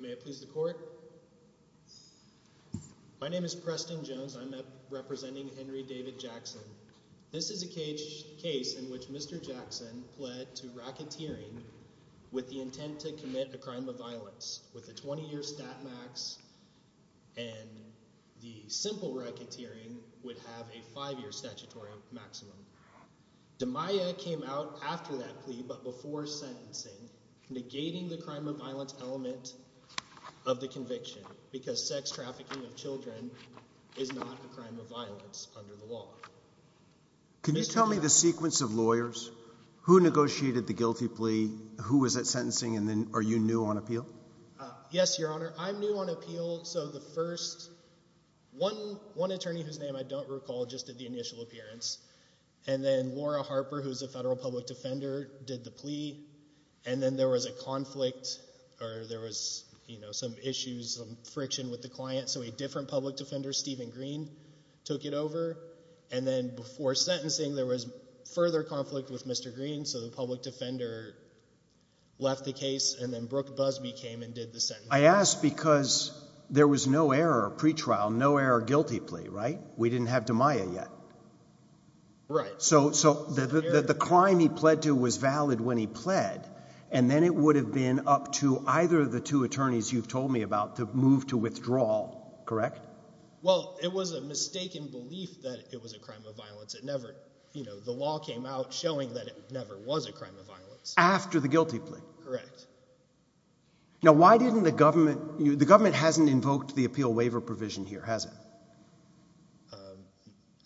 May it please the court. My name is Preston Jones, I'm representing Henry David Jackson. This is a case in which Mr. Jackson pled to racketeering with the intent to commit a crime of violence with a 20-year stat max and the simple racketeering would have a 5-year statutory maximum. The Maya came out after that plea, but before sentencing, negating the crime of violence element of the conviction because sex trafficking of children is not a crime of violence under the law. Can you tell me the sequence of lawyers who negotiated the guilty plea? Who was that sentencing? And then are you new on appeal? Yes, Your Honor, I'm new on appeal. So the first, one attorney whose name I don't recall, just did the initial appearance. And then Laura Harper, who's a federal public defender, did the plea. And then there was a conflict or there was, you know, some issues, some friction with the client. So a different public defender, Stephen Green, took it over. And then before sentencing, there was further conflict with Mr. Green. So the public defender left the case and then Brooke Busby came and did the sentencing. I ask because there was no error pre-trial, no error guilty plea, right? We didn't have the Maya yet. Right. So the crime he pled to was valid when he pled. And then it would have been up to either of the two attorneys you've told me about to move to withdrawal, correct? Well, it was a mistaken belief that it was a crime of violence. It never, you know, the law came out showing that it never was a crime of violence. After the guilty plea. Correct. Now, why didn't the government, the government hasn't invoked the appeal waiver provision here, has it?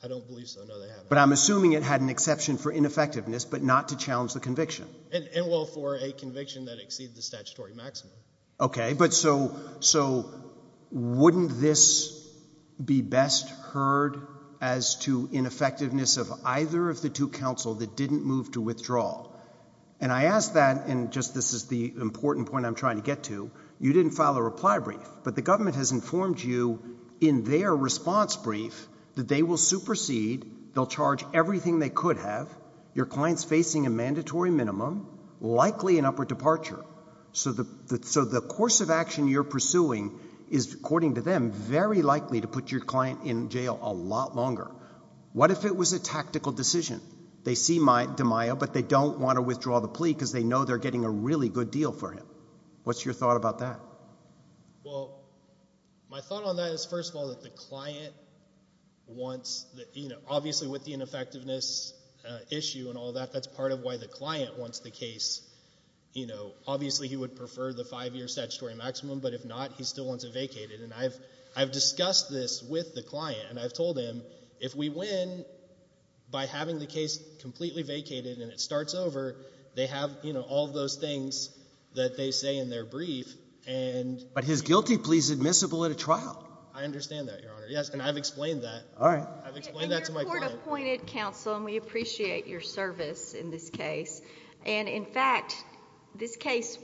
I don't believe so. No, they haven't. But I'm assuming it had an exception for ineffectiveness, but not to challenge the conviction. And well, for a conviction that exceeds the statutory maximum. Okay. But so, so wouldn't this be best heard as to ineffectiveness of either of the two counsel that didn't move to withdrawal? And I asked that, and just this is the important point I'm trying to get to. You didn't file a reply brief, but the government has informed you in their response brief that they will supersede, they'll charge everything they could have. Your client's facing a mandatory minimum, likely an upward departure. So the, so the course of action you're pursuing is, according to them, very likely to put your client in jail a lot longer. What if it was a tactical decision? They see DeMaio, but they don't want to withdraw the plea because they know they're getting a really good deal for him. What's your thought about that? Well, my thought on that is, first of all, that the client wants the, you know, obviously with the ineffectiveness issue and all that, that's part of why the client wants the case. You know, obviously he would prefer the five-year statutory maximum, but if not, he still wants it vacated. And I've, I've discussed this with the client, and I've told him, if we win by having the case completely vacated and it starts over, they have, you know, all of those things that they say in their brief, and... But his guilty plea's admissible at a trial. I understand that, Your Honor. Yes, and I've explained that. All right. I've explained that to my client. Your court appointed counsel, and we appreciate your service in this case. And in fact, this case,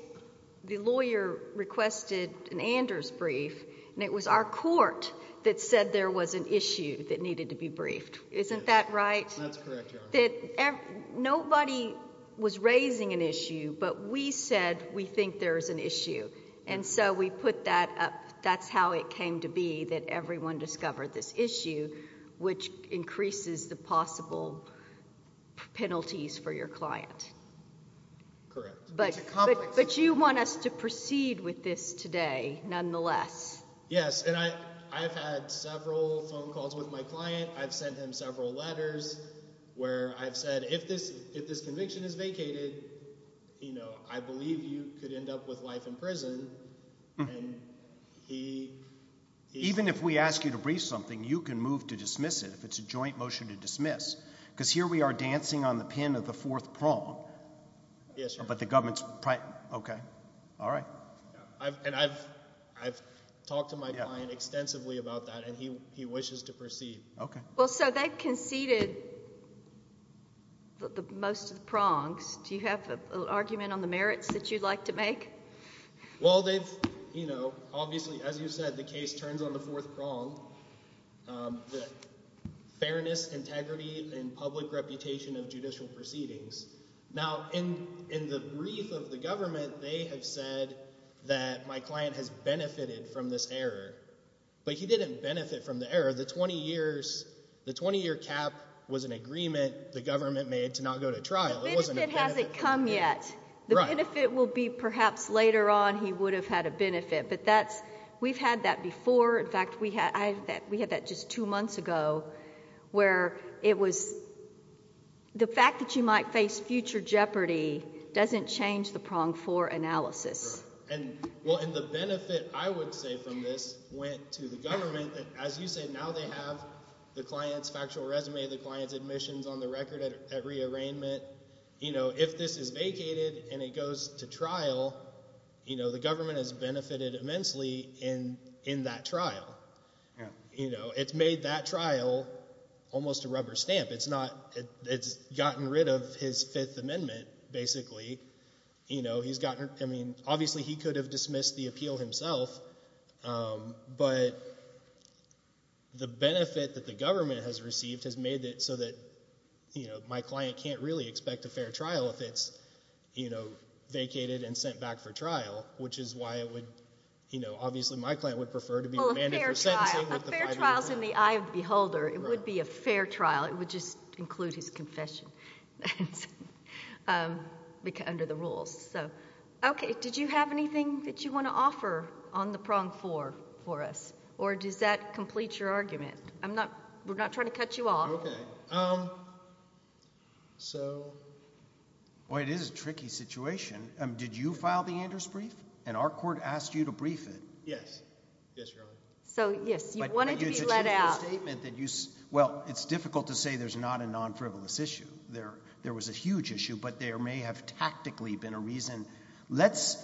the lawyer requested an Anders brief, and it was our court that said there was an issue that needed to be briefed. Isn't that right? That's correct, Your Honor. That nobody was raising an issue, but we said we think there is an issue. And so we put that up. That's how it came to be that everyone discovered this issue, which increases the possible penalties for your client. Correct. It's a complex... But, but you want us to proceed with this today, nonetheless. Yes. And I, I've had several phone calls with my client. I've sent him several letters where I've said, if this, if this conviction is vacated, you know, I believe you could end up with life in prison, and he... Even if we ask you to brief something, you can move to dismiss it, if it's a joint motion to dismiss. Because here we are dancing on the pin of the fourth prong... Yes, Your Honor. But the government's... Okay. All right. I've, and I've, I've talked to my client extensively about that, and he, he wishes to proceed. Okay. Well, so they've conceded the, the most of the prongs. Do you have an argument on the merits that you'd like to make? Well, they've, you know, obviously, as you said, the case turns on the fourth prong, the fairness, integrity, and public reputation of judicial proceedings. Now in, in the brief of the government, they have said that my client has benefited from this error. But he didn't benefit from the error. The 20 years, the 20-year cap was an agreement the government made to not go to trial. It wasn't a benefit... The benefit hasn't come yet. Right. The benefit will be perhaps later on he would have had a benefit, but that's, we've had that before. In fact, we had, I have that, we had that just two months ago, where it was, the fact that you might face future jeopardy doesn't change the prong for analysis. Right. And, well, and the benefit, I would say, from this went to the government that, as you said, now they have the client's factual resume, the client's admissions on the record at re-arraignment. You know, if this is vacated and it goes to trial, you know, the government has benefited immensely in, in that trial. Yeah. You know, it's made that trial almost a rubber stamp. It's not, it's gotten rid of his Fifth Amendment, basically. You know, he's gotten, I mean, obviously he could have dismissed the appeal himself, but the benefit that the government has received has made it so that, you know, my client can't really expect a fair trial if it's, you know, vacated and sent back for trial, which is why it would, you know, obviously my client would prefer to be remanded for sentencing with the five-year... Well, a fair trial, a fair trial's in the eye of the beholder. Right. It would be a fair trial. It would just include his confession under the rules, so... Okay. Did you have anything that you want to offer on the prong four for us, or does that complete your argument? I'm not, we're not trying to cut you off. Okay. So... Boy, it is a tricky situation. Did you file the Anders brief, and our court asked you to brief it? Yes, Your Honor. So, yes. You wanted to be let out. Well, it's difficult to say there's not a non-frivolous issue. There was a huge issue, but there may have tactically been a reason. Let's,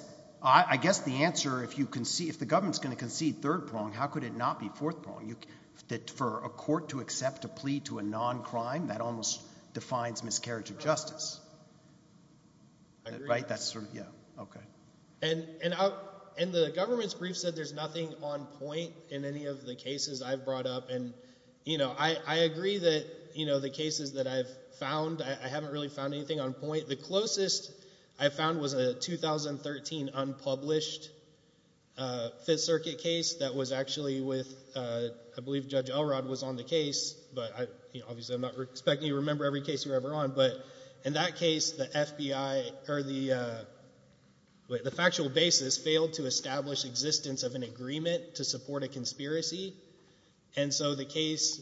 I guess the answer, if you concede, if the government's going to concede third prong, how could it not be fourth prong? For a court to accept a plea to a non-crime, that almost defines miscarriage of justice. Right? I agree. That's sort of, yeah. Okay. And the government's brief said there's nothing on point in any of the cases I've brought up. And, you know, I agree that, you know, the cases that I've found, I haven't really found anything on point. The closest I found was a 2013 unpublished Fifth Circuit case that was actually with, I believe Judge Elrod was on the case, but I, you know, obviously I'm not expecting you to remember every case you were ever on, but in that case, the FBI, or the factual basis failed to establish existence of an agreement to support a conspiracy. And so the case,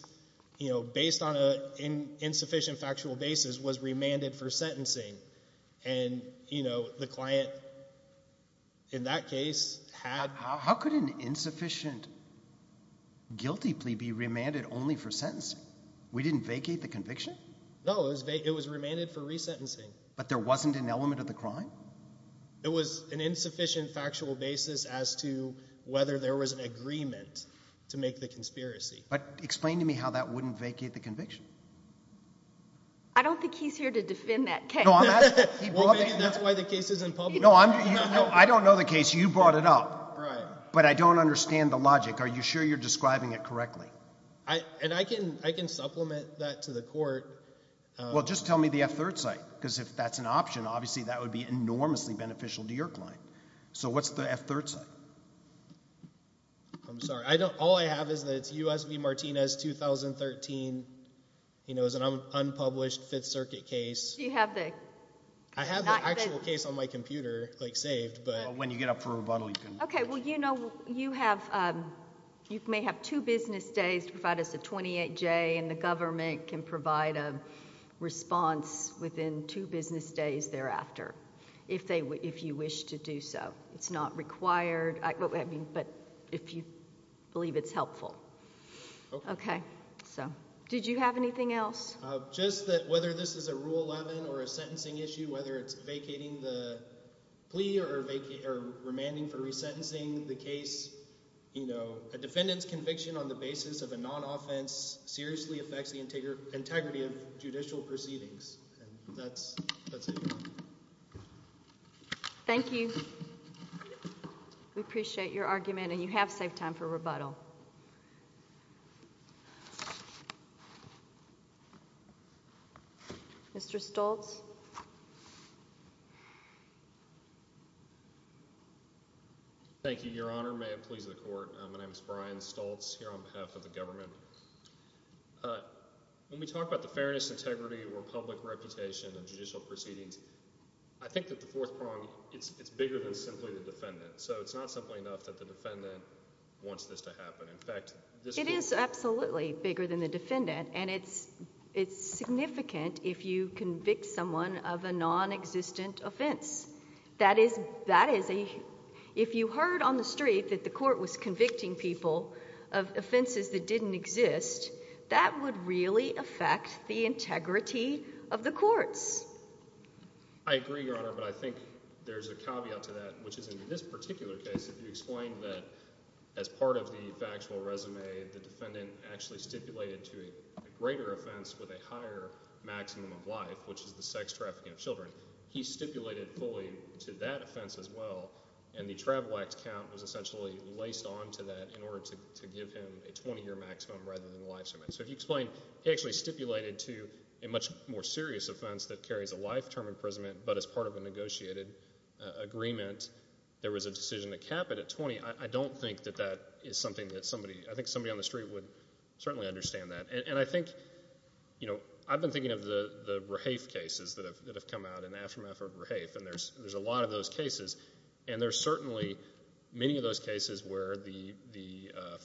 you know, based on an insufficient factual basis was remanded for sentencing. And, you know, the client in that case had... How could an insufficient guilty plea be remanded only for sentencing? We didn't vacate the conviction? No, it was remanded for resentencing. But there wasn't an element of the crime? It was an insufficient factual basis as to whether there was an agreement to make the conspiracy. But explain to me how that wouldn't vacate the conviction? I don't think he's here to defend that case. Well, maybe that's why the case isn't published. I don't know the case. You brought it up. Right. But I don't understand the logic. Are you sure you're describing it correctly? And I can supplement that to the court. Well, just tell me the F-3rd site, because if that's an option, obviously that would be enormously beneficial to your client. So what's the F-3rd site? I'm sorry. I don't... All I have is that it's U.S. v. Martinez, 2013, you know, it's an unpublished Fifth Circuit case. Do you have the... I have the actual case on my computer, like, saved, but... When you get up for rebuttal, you can... Okay. Well, you know, you have... You may have two business days to provide us a 28-J, and the government can provide a response within two business days thereafter, if you wish to do so. It's not required, but if you believe it's helpful. Okay. Okay. So did you have anything else? Just that whether this is a Rule 11 or a sentencing issue, whether it's vacating the plea or remanding for resentencing the case, you know, a defendant's conviction on the basis of a non-offense seriously affects the integrity of judicial proceedings, and that's it. Thank you. We appreciate your argument, and you have saved time for rebuttal. Mr. Stoltz? Thank you, Your Honor. May it please the Court. My name is Brian Stoltz, here on behalf of the government. When we talk about the fairness, integrity, or public reputation of judicial proceedings, I think that the fourth prong, it's bigger than simply the defendant. So it's not simply enough that the defendant wants this to happen. In fact, this... It is absolutely bigger than the defendant, and it's significant if you convict someone of a non-existent offense. That is a... If you heard on the street that the court was convicting people of offenses that didn't exist, that would really affect the integrity of the courts. I agree, Your Honor, but I think there's a caveat to that, which is in this particular case, if you explain that as part of the factual resume, the defendant actually stipulated to a greater offense with a higher maximum of life, which is the sex trafficking of children, he stipulated fully to that offense as well, and the travel act count was essentially laced onto that in order to give him a 20-year maximum rather than a life sentence. So if you explain, he actually stipulated to a much more serious offense that carries a life term imprisonment, but as part of a negotiated agreement, there was a decision to cap it at 20. I don't think that that is something that somebody... I think somebody on the street would certainly understand that. And I think, you know, I've been thinking of the Rahafe cases that have come out in the aftermath of Rahafe, and there's a lot of those cases, and there's certainly many of those cases where the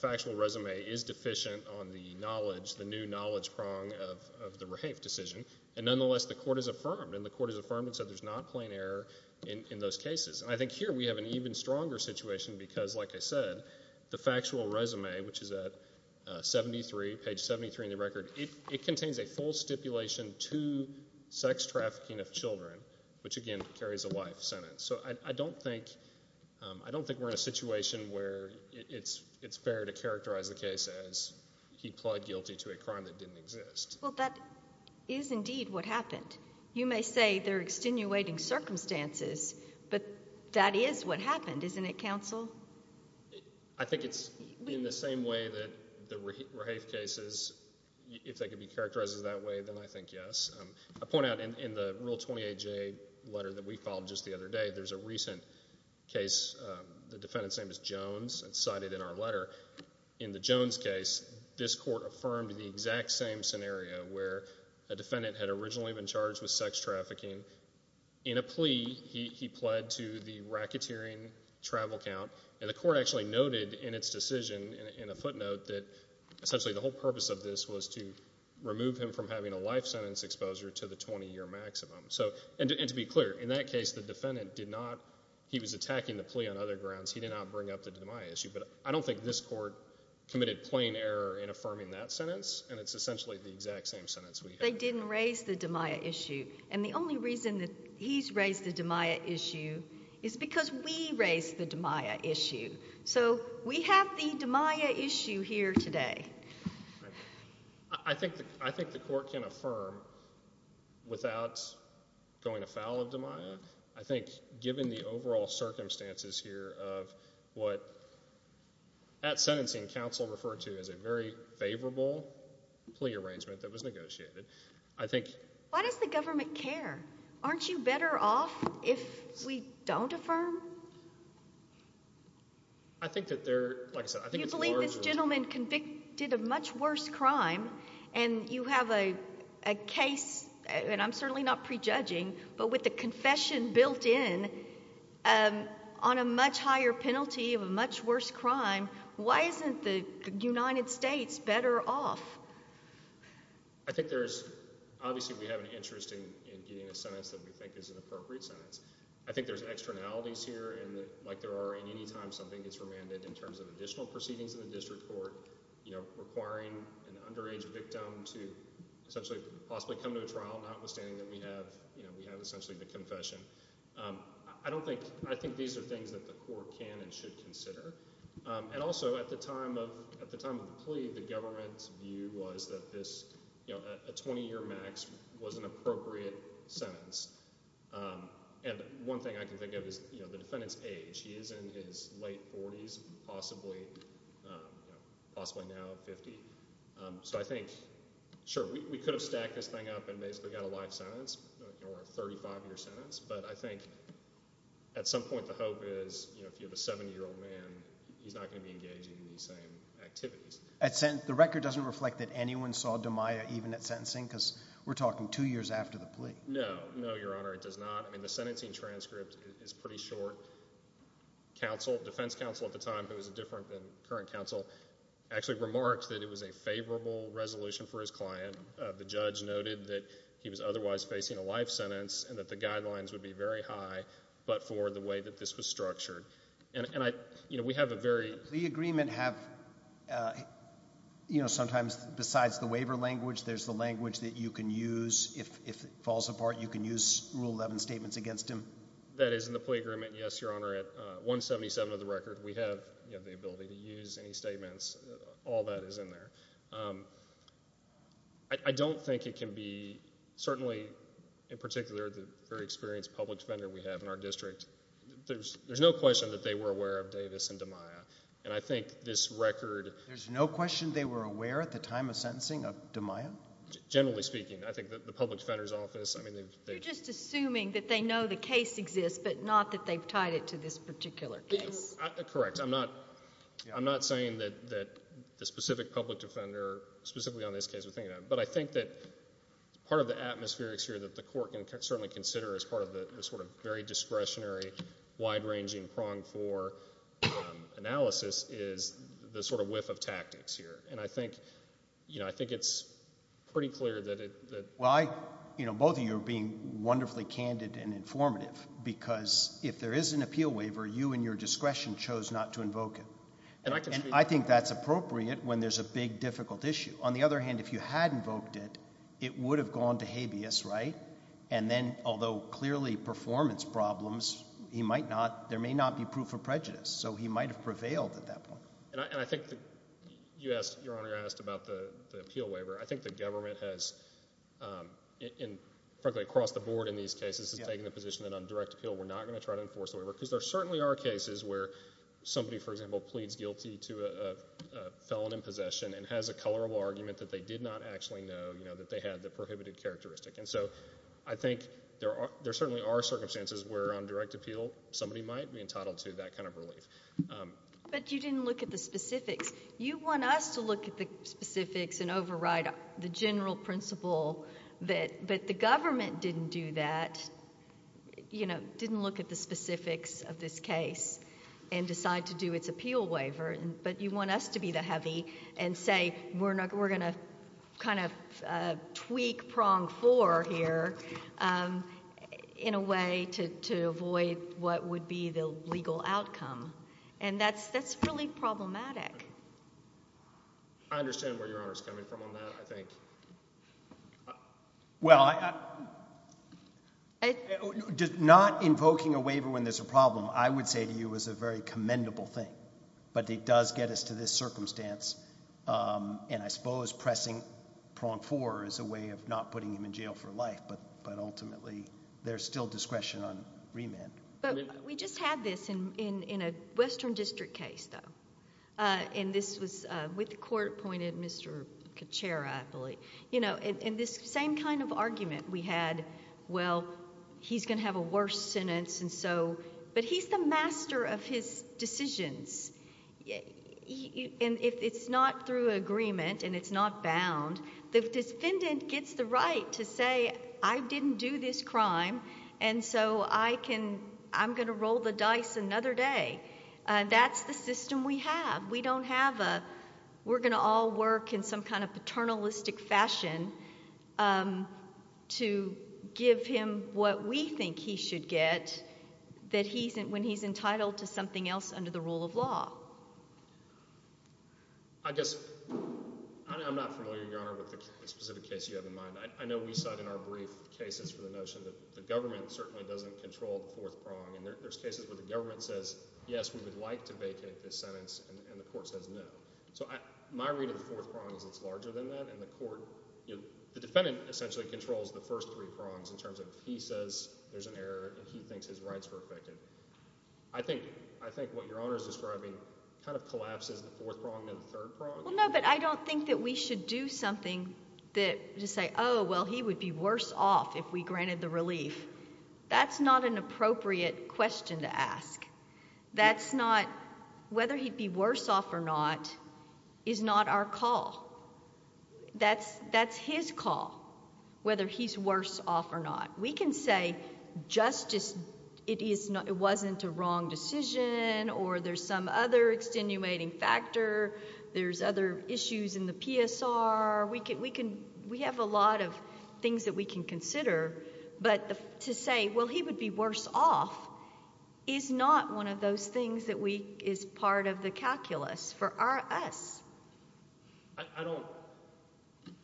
factual resume is deficient on the knowledge, the new knowledge prong of the Rahafe decision, and nonetheless, the court has affirmed, and the court has affirmed and said there's not plain error in those cases. I think here we have an even stronger situation because, like I said, the factual resume, which is at 73, page 73 in the record, it contains a full stipulation to sex trafficking of children, which again carries a life sentence. So I don't think, I don't think we're in a situation where it's fair to characterize the case as he pled guilty to a crime that didn't exist. Well, that is indeed what happened. You may say they're extenuating circumstances, but that is what happened, isn't it, counsel? I think it's in the same way that the Rahafe cases, if they could be characterized in that way, then I think yes. I point out in the Rule 28J letter that we filed just the other day, there's a recent case, the defendant's name is Jones, it's cited in our letter. In the Jones case, this court affirmed the exact same scenario where a defendant had originally been charged with sex trafficking. In a plea, he pled to the racketeering travel count, and the court actually noted in its decision in a footnote that essentially the whole purpose of this was to remove him from having a life sentence exposure to the 20-year maximum. So, and to be clear, in that case, the defendant did not, he was attacking the plea on other grounds, he did not bring up the DiMaia issue, but I don't think this court committed plain error in affirming that sentence, and it's essentially the exact same sentence we have. They didn't raise the DiMaia issue, and the only reason that he's raised the DiMaia issue is because we raised the DiMaia issue, so we have the DiMaia issue here today. I think the court can affirm without going afoul of DiMaia, I think given the overall circumstances here of what at sentencing, counsel referred to as a very favorable plea arrangement that was negotiated, I think... Why does the government care? Aren't you better off if we don't affirm? I think that there, like I said, I think it's more of a... Do you believe this gentleman convicted a much worse crime, and you have a case, and I'm certainly not prejudging, but with the confession built in on a much higher penalty of a much worse crime, why isn't the United States better off? I think there's... Obviously we have an interest in getting a sentence that we think is an appropriate sentence. I think there's externalities here, and like there are in any time something gets remanded in terms of additional proceedings in the district court requiring an underage victim to essentially possibly come to a trial, notwithstanding that we have essentially the confession. I don't think... I think these are things that the court can and should consider. And also at the time of the plea, the government's view was that this, you know, a 20-year max was an appropriate sentence. And one thing I can think of is, you know, the defendant's age. He is in his late 40s, possibly now 50. So I think, sure, we could have stacked this thing up and basically got a life sentence or a 35-year sentence, but I think at some point the hope is, you know, if you have a 70-year-old man, he's not going to be engaging in these same activities. The record doesn't reflect that anyone saw Damiah even at sentencing because we're talking two years after the plea. No. No, Your Honor. It does not. I mean, the sentencing transcript is pretty short. Defense counsel at the time, who was different than current counsel, actually remarked that it was a favorable resolution for his client. The judge noted that he was otherwise facing a life sentence and that the guidelines would be very high, but for the way that this was structured. And I, you know, we have a very... The agreement have, you know, sometimes besides the waiver language, there's the language that you can use if it falls apart. You can use Rule 11 statements against him. That is in the plea agreement, yes, Your Honor, at 177 of the record. We have the ability to use any statements. All that is in there. I don't think it can be, certainly in particular, the very experienced public defender we have in our district, there's no question that they were aware of Davis and Damiah. And I think this record... There's no question they were aware at the time of sentencing of Damiah? Generally speaking. I think that the public defender's office, I mean, they've... You're just assuming that they know the case exists, but not that they've tied it to this particular case. Correct. I'm not... Yeah. I'm not saying that the specific public defender, specifically on this case we're thinking of, but I think that part of the atmospherics here that the court can certainly consider as part of the sort of very discretionary, wide-ranging, prong-for analysis is the sort of whiff of tactics here. And I think, you know, I think it's pretty clear that it... Well, I... You know, both of you are being wonderfully candid and informative because if there is an appeal waiver, you and your discretion chose not to invoke it. And I think that's appropriate when there's a big, difficult issue. On the other hand, if you had invoked it, it would have gone to habeas, right? And then, although clearly performance problems, he might not... there may not be proof of prejudice. So he might have prevailed at that point. And I think that you asked... Your Honor, you asked about the appeal waiver. I think the government has, frankly, across the board in these cases, has taken the position that on direct appeal, we're not going to try to enforce the waiver because there certainly are cases where somebody, for example, pleads guilty to a felon in possession and has a colorable argument that they did not actually know, you know, that they had the prohibited characteristic. And so I think there are... there certainly are circumstances where on direct appeal, somebody might be entitled to that kind of relief. But you didn't look at the specifics. You want us to look at the specifics and override the general principle that the government didn't do that, you know, didn't look at the specifics of this case and decide to do its appeal waiver. But you want us to be the heavy and say, we're going to kind of tweak prong four here in a way to avoid what would be the legal outcome. And that's really problematic. I understand where Your Honor is coming from on that, I think. Well, I... not invoking a waiver when there's a problem, I would say to you, is a very commendable thing. But it does get us to this circumstance, and I suppose pressing prong four is a way of not putting him in jail for life, but ultimately, there's still discretion on remand. But we just had this in a Western District case, though, and this was with the court chair, I believe. You know, and this same kind of argument we had, well, he's going to have a worse sentence, and so... but he's the master of his decisions, and if it's not through agreement and it's not bound, the defendant gets the right to say, I didn't do this crime, and so I can... I'm going to roll the dice another day. That's the system we have. We don't have a... we're going to all work in some kind of paternalistic fashion to give him what we think he should get when he's entitled to something else under the rule of law. I guess... I'm not familiar, Your Honor, with the specific case you have in mind. I know we saw it in our brief cases for the notion that the government certainly doesn't control the fourth prong, and there's cases where the government says, yes, we would like to vacate this sentence, and the court says no. So my read of the fourth prong is it's larger than that, and the court... the defendant essentially controls the first three prongs in terms of if he says there's an error and he thinks his rights were affected. I think what Your Honor's describing kind of collapses the fourth prong into the third prong. Well, no, but I don't think that we should do something that... to say, oh, well, he would be worse off if we granted the relief. That's not an appropriate question to ask. That's not... whether he'd be worse off or not is not our call. That's his call, whether he's worse off or not. We can say justice... it wasn't a wrong decision, or there's some other extenuating factor, there's other issues in the PSR. We have a lot of things that we can consider, but to say, well, he would be worse off is not one of those things that we... is part of the calculus for our... us. I don't...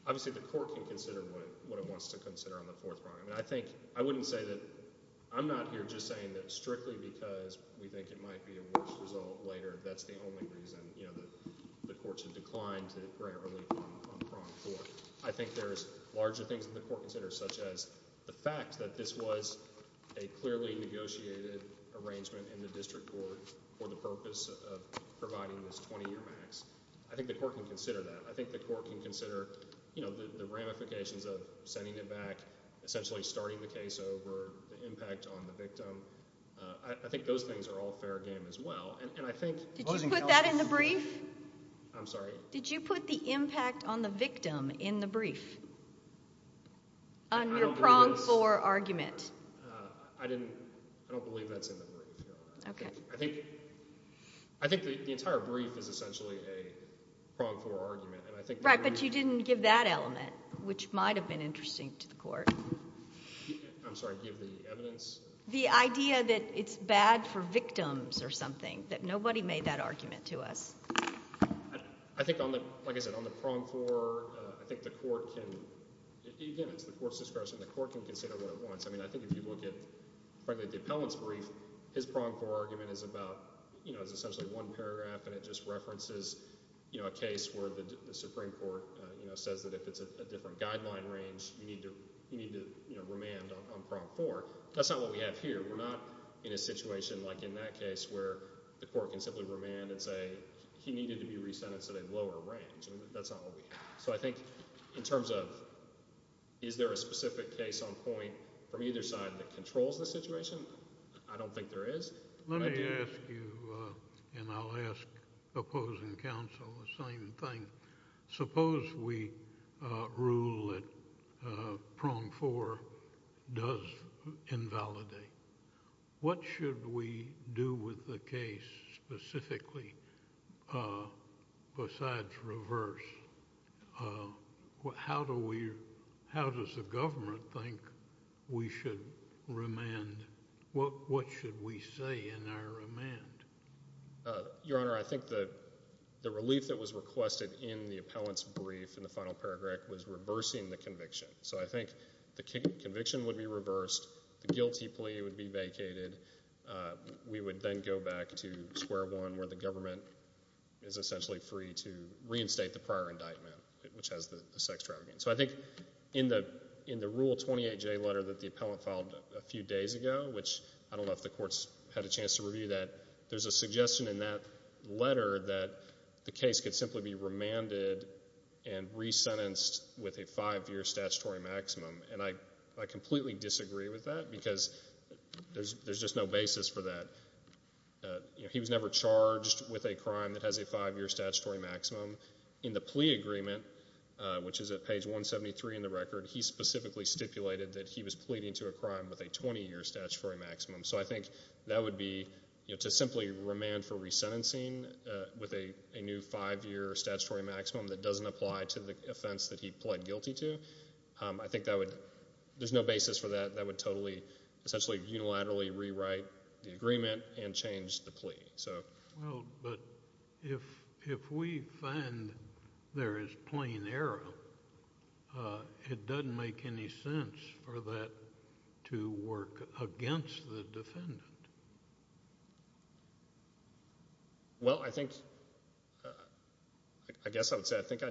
obviously, the court can consider what it wants to consider on the fourth prong. I think... I wouldn't say that... I'm not here just saying that strictly because we think it might be a worse result later, that's the only reason, you know, the courts have declined to grant relief on prong four. I think there's larger things that the court considers, such as the fact that this was a clearly negotiated arrangement in the district court for the purpose of providing this 20-year max. I think the court can consider that. I think the court can consider, you know, the ramifications of sending it back, essentially starting the case over, the impact on the victim. I think those things are all fair game as well, and I think... Did you put that in the brief? Did you put the impact on the victim in the brief? On your prong four argument? I didn't... I don't believe that's in the brief, no. Okay. I think... I think the entire brief is essentially a prong four argument, and I think... Right, but you didn't give that element, which might have been interesting to the court. I'm sorry, give the evidence? The idea that it's bad for victims or something, that nobody made that argument to us. I think on the, like I said, on the prong four, I think the court can... Again, it's the court's discretion. The court can consider what it wants. I mean, I think if you look at, frankly, the appellant's brief, his prong four argument is about, you know, it's essentially one paragraph, and it just references, you know, a case where the Supreme Court, you know, says that if it's a different guideline range, you need to, you know, remand on prong four. That's not what we have here. We're not in a situation like in that case where the court can simply remand and say he needed to be re-sentenced at a lower range. I mean, that's not what we have. So I think in terms of is there a specific case on point from either side that controls the situation, I don't think there is. Let me ask you, and I'll ask opposing counsel the same thing. Suppose we rule that prong four does invalidate. What should we do with the case specifically besides reverse? How do we... how does the government think we should remand? What should we say in our remand? Your Honor, I think the relief that was requested in the appellant's brief in the final paragraph was reversing the conviction. So I think the conviction would be reversed. The guilty plea would be vacated. We would then go back to square one where the government is essentially free to reinstate the prior indictment, which has the sex trafficking. So I think in the Rule 28J letter that the appellant filed a few days ago, which I don't know if the courts had a chance to review that, there's a suggestion in that letter that the case could simply be remanded and resentenced with a five-year statutory maximum. And I completely disagree with that because there's just no basis for that. He was never charged with a crime that has a five-year statutory maximum. In the plea agreement, which is at page 173 in the record, he specifically stipulated that he was pleading to a crime with a 20-year statutory maximum. So I think that would be to simply remand for resentencing with a new five-year statutory maximum that doesn't apply to the offense that he pled guilty to. I think that would—there's no basis for that. That would totally, essentially unilaterally rewrite the agreement and change the plea. Well, but if we find there is plain error, it doesn't make any sense for that to work against the defendant. Well, I think—I guess I would say I think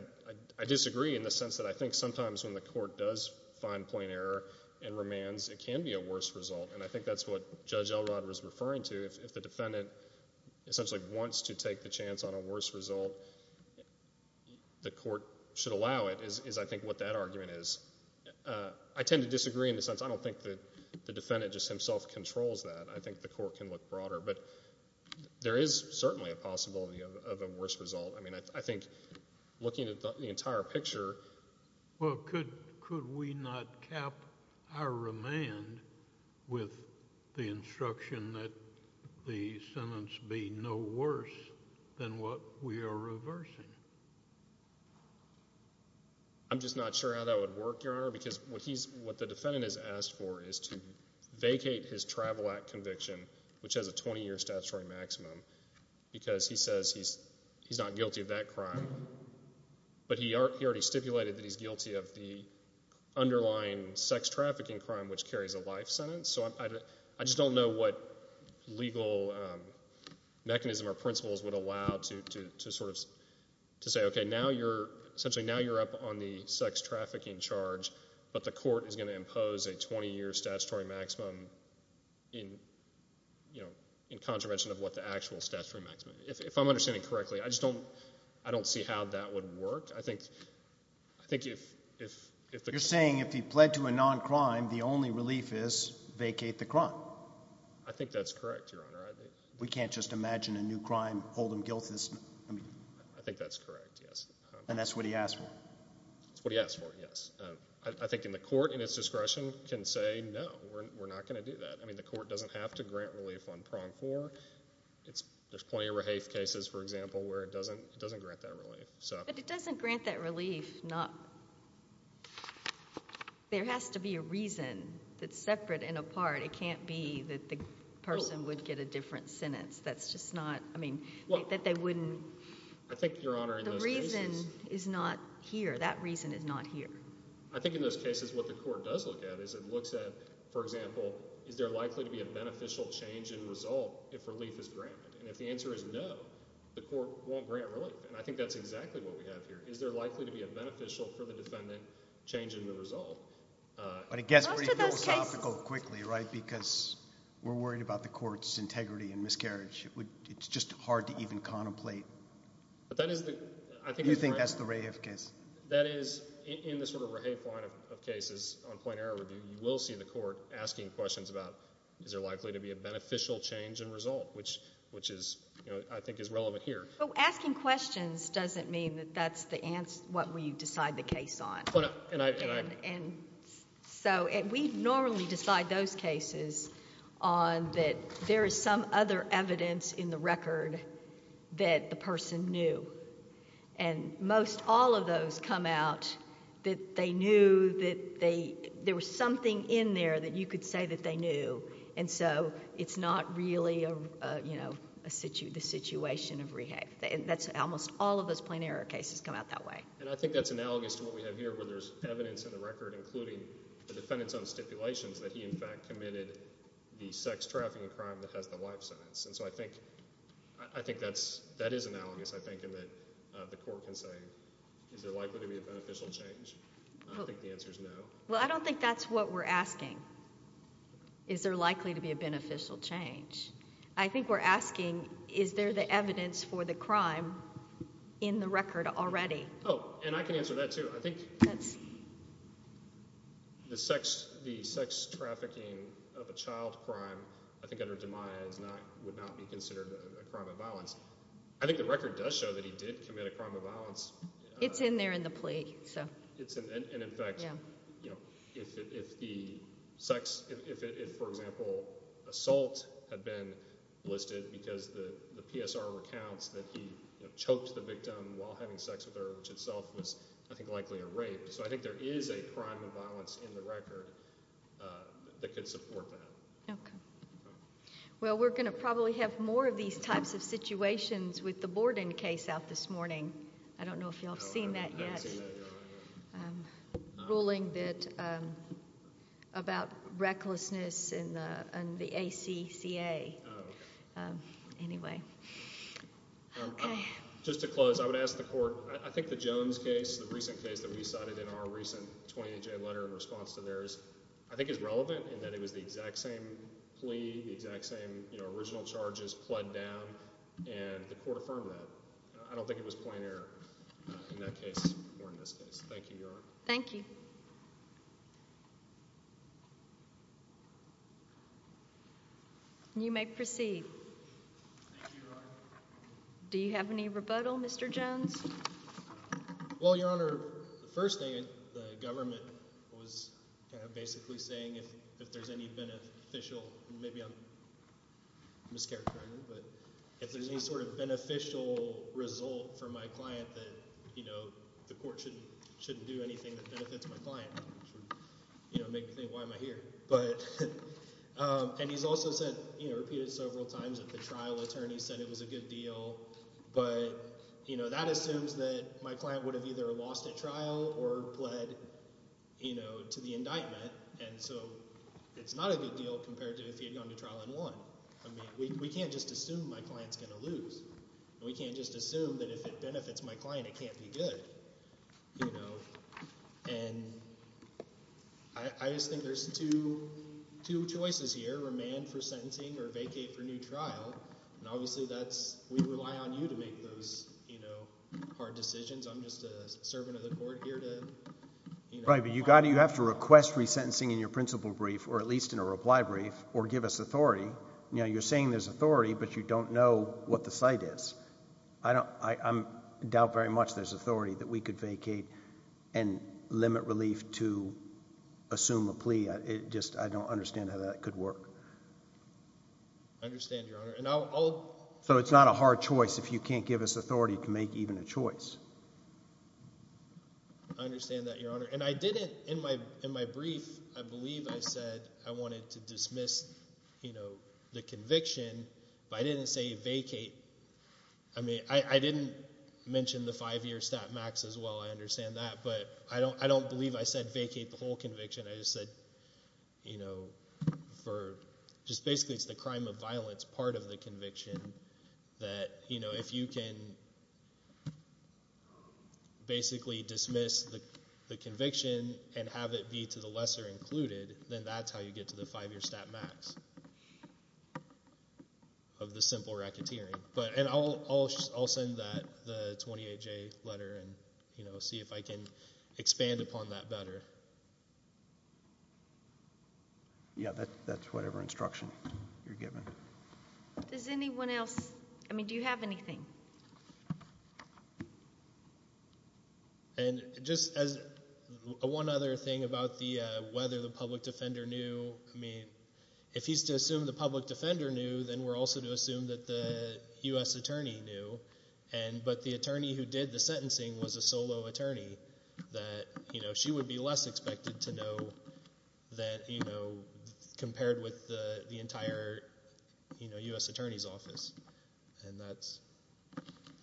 I disagree in the sense that I think sometimes when the court does find plain error in remands, it can be a worse result. And I think that's what Judge Elrod was referring to. If the defendant essentially wants to take the chance on a worse result, the court should allow it, is I think what that argument is. I tend to disagree in the sense I don't think the defendant just himself controls that. I think the court can look broader. But there is certainly a possibility of a worse result. I mean, I think looking at the entire picture— Well, could we not cap our remand with the instruction that the sentence be no worse than what we are reversing? I'm just not sure how that would work, Your Honor, because what the defendant has asked for is to vacate his Travel Act conviction, which has a 20-year statutory maximum, because he says he's not guilty of that crime. But he already stipulated that he's guilty of the underlying sex trafficking crime, which carries a life sentence. So I just don't know what legal mechanism or principles would allow to sort of say, okay, now you're—essentially now you're up on the sex trafficking charge, but the court is going to impose a 20-year statutory maximum in contravention of what the actual statutory maximum— If I'm understanding correctly, I just don't see how that would work. I think if— You're saying if he pled to a non-crime, the only relief is vacate the crime. I think that's correct, Your Honor. We can't just imagine a new crime, hold him guilty. I think that's correct, yes. And that's what he asked for. That's what he asked for, yes. I think the court, in its discretion, can say, no, we're not going to do that. I mean, the court doesn't have to grant relief on prong four. There's plenty of Rahafe cases, for example, where it doesn't grant that relief. But it doesn't grant that relief. There has to be a reason that's separate and apart. It can't be that the person would get a different sentence. That's just not—I mean, that they wouldn't— I think, Your Honor, in those cases— The reason is not here. That reason is not here. I think in those cases what the court does look at is it looks at, for example, is there likely to be a beneficial change in result if relief is granted? And if the answer is no, the court won't grant relief. And I think that's exactly what we have here. Is there likely to be a beneficial, for the defendant, change in the result? But I guess— Most of those cases— We're worried about the court's integrity and miscarriage. It's just hard to even contemplate. But that is the— Do you think that's the Rahafe case? That is, in the sort of Rahafe line of cases, on plain error review, you will see the court asking questions about is there likely to be a beneficial change in result, which is, I think, is relevant here. Asking questions doesn't mean that that's the answer— what we decide the case on. And I— We normally decide those cases on that there is some other evidence in the record that the person knew. And most all of those come out that they knew that there was something in there that you could say that they knew. And so it's not really the situation of Rahafe. Almost all of those plain error cases come out that way. And I think that's analogous to what we have here where there's evidence in the record, including the defendant's own stipulations, that he, in fact, committed the sex trafficking crime that has the life sentence. And so I think that is analogous, I think, in that the court can say, is there likely to be a beneficial change? I don't think the answer is no. Well, I don't think that's what we're asking. Is there likely to be a beneficial change? I think we're asking, is there the evidence for the crime in the record already? Oh, and I can answer that, too. I think the sex— the sex trafficking of a child crime, I think under DiMaia, would not be considered a crime of violence. I think the record does show that he did commit a crime of violence. It's in there in the plea, so... And, in fact, you know, if the sex— if, for example, assault had been listed because the PSR recounts that he choked the victim while having sex with her, which itself was, I think, likely a rape. So I think there is a crime of violence in the record that could support that. Okay. Well, we're going to probably have more of these types of situations with the Borden case out this morning. I don't know if y'all have seen that yet. No, I haven't seen that yet. Ruling that— about recklessness in the ACCA. Oh, okay. Anyway. Just to close, I would ask the court— I think the Jones case, the recent case that we cited in our recent 28-J letter in response to theirs, I think is relevant in that it was the exact same plea, the exact same original charges were just plied down, and the court affirmed that. I don't think it was plain error in that case or in this case. Thank you, Your Honor. Thank you. You may proceed. Thank you, Your Honor. Do you have any rebuttal, Mr. Jones? Well, Your Honor, the first thing, the government was basically saying if there's any beneficial— I'm a scarecracker, but if there's any sort of beneficial result for my client that the court shouldn't do anything that benefits my client, which would make me think, why am I here? And he's also said, repeated several times, that the trial attorney said it was a good deal, but that assumes that my client would have either lost at trial or pled to the indictment, and so it's not a good deal compared to if he had gone to trial and won. I mean, we can't just assume my client's going to lose. We can't just assume that if it benefits my client, it can't be good. You know, and I just think there's two choices here, remand for sentencing or vacate for new trial, and obviously that's— we rely on you to make those hard decisions. I'm just a servant of the court here to— Right, but you have to request free sentencing in your principal brief, or at least in a reply brief, or give us authority. You know, you're saying there's authority, but you don't know what the site is. I'm in doubt very much there's authority that we could vacate and limit relief to assume a plea. I just don't understand how that could work. I understand, Your Honor, and I'll— So it's not a hard choice if you can't give us authority to make even a choice. I understand that, Your Honor. And I didn't, in my brief, I believe I said I wanted to dismiss, you know, the conviction, but I didn't say vacate. I mean, I didn't mention the five-year stat max as well. I understand that, but I don't believe I said vacate the whole conviction. I just said, you know, for just basically it's the crime of violence part of the conviction that, you know, if you can basically dismiss the conviction and have it be to the lesser included, then that's how you get to the five-year stat max of the simple racketeering. And I'll send the 28-J letter and, you know, see if I can expand upon that better. Yeah, that's whatever instruction you're given. Does anyone else—I mean, do you have anything? And just as one other thing about the whether the public defender knew, I mean, if he's to assume the public defender knew, then we're also to assume that the U.S. attorney knew. But the attorney who did the sentencing was a solo attorney that, you know, she would be less expected to know that, you know, compared with the entire, you know, U.S. attorney's office. And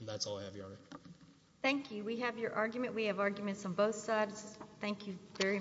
that's all I have, Your Honor. Thank you. We have your argument. We have arguments on both sides. Thank you very much.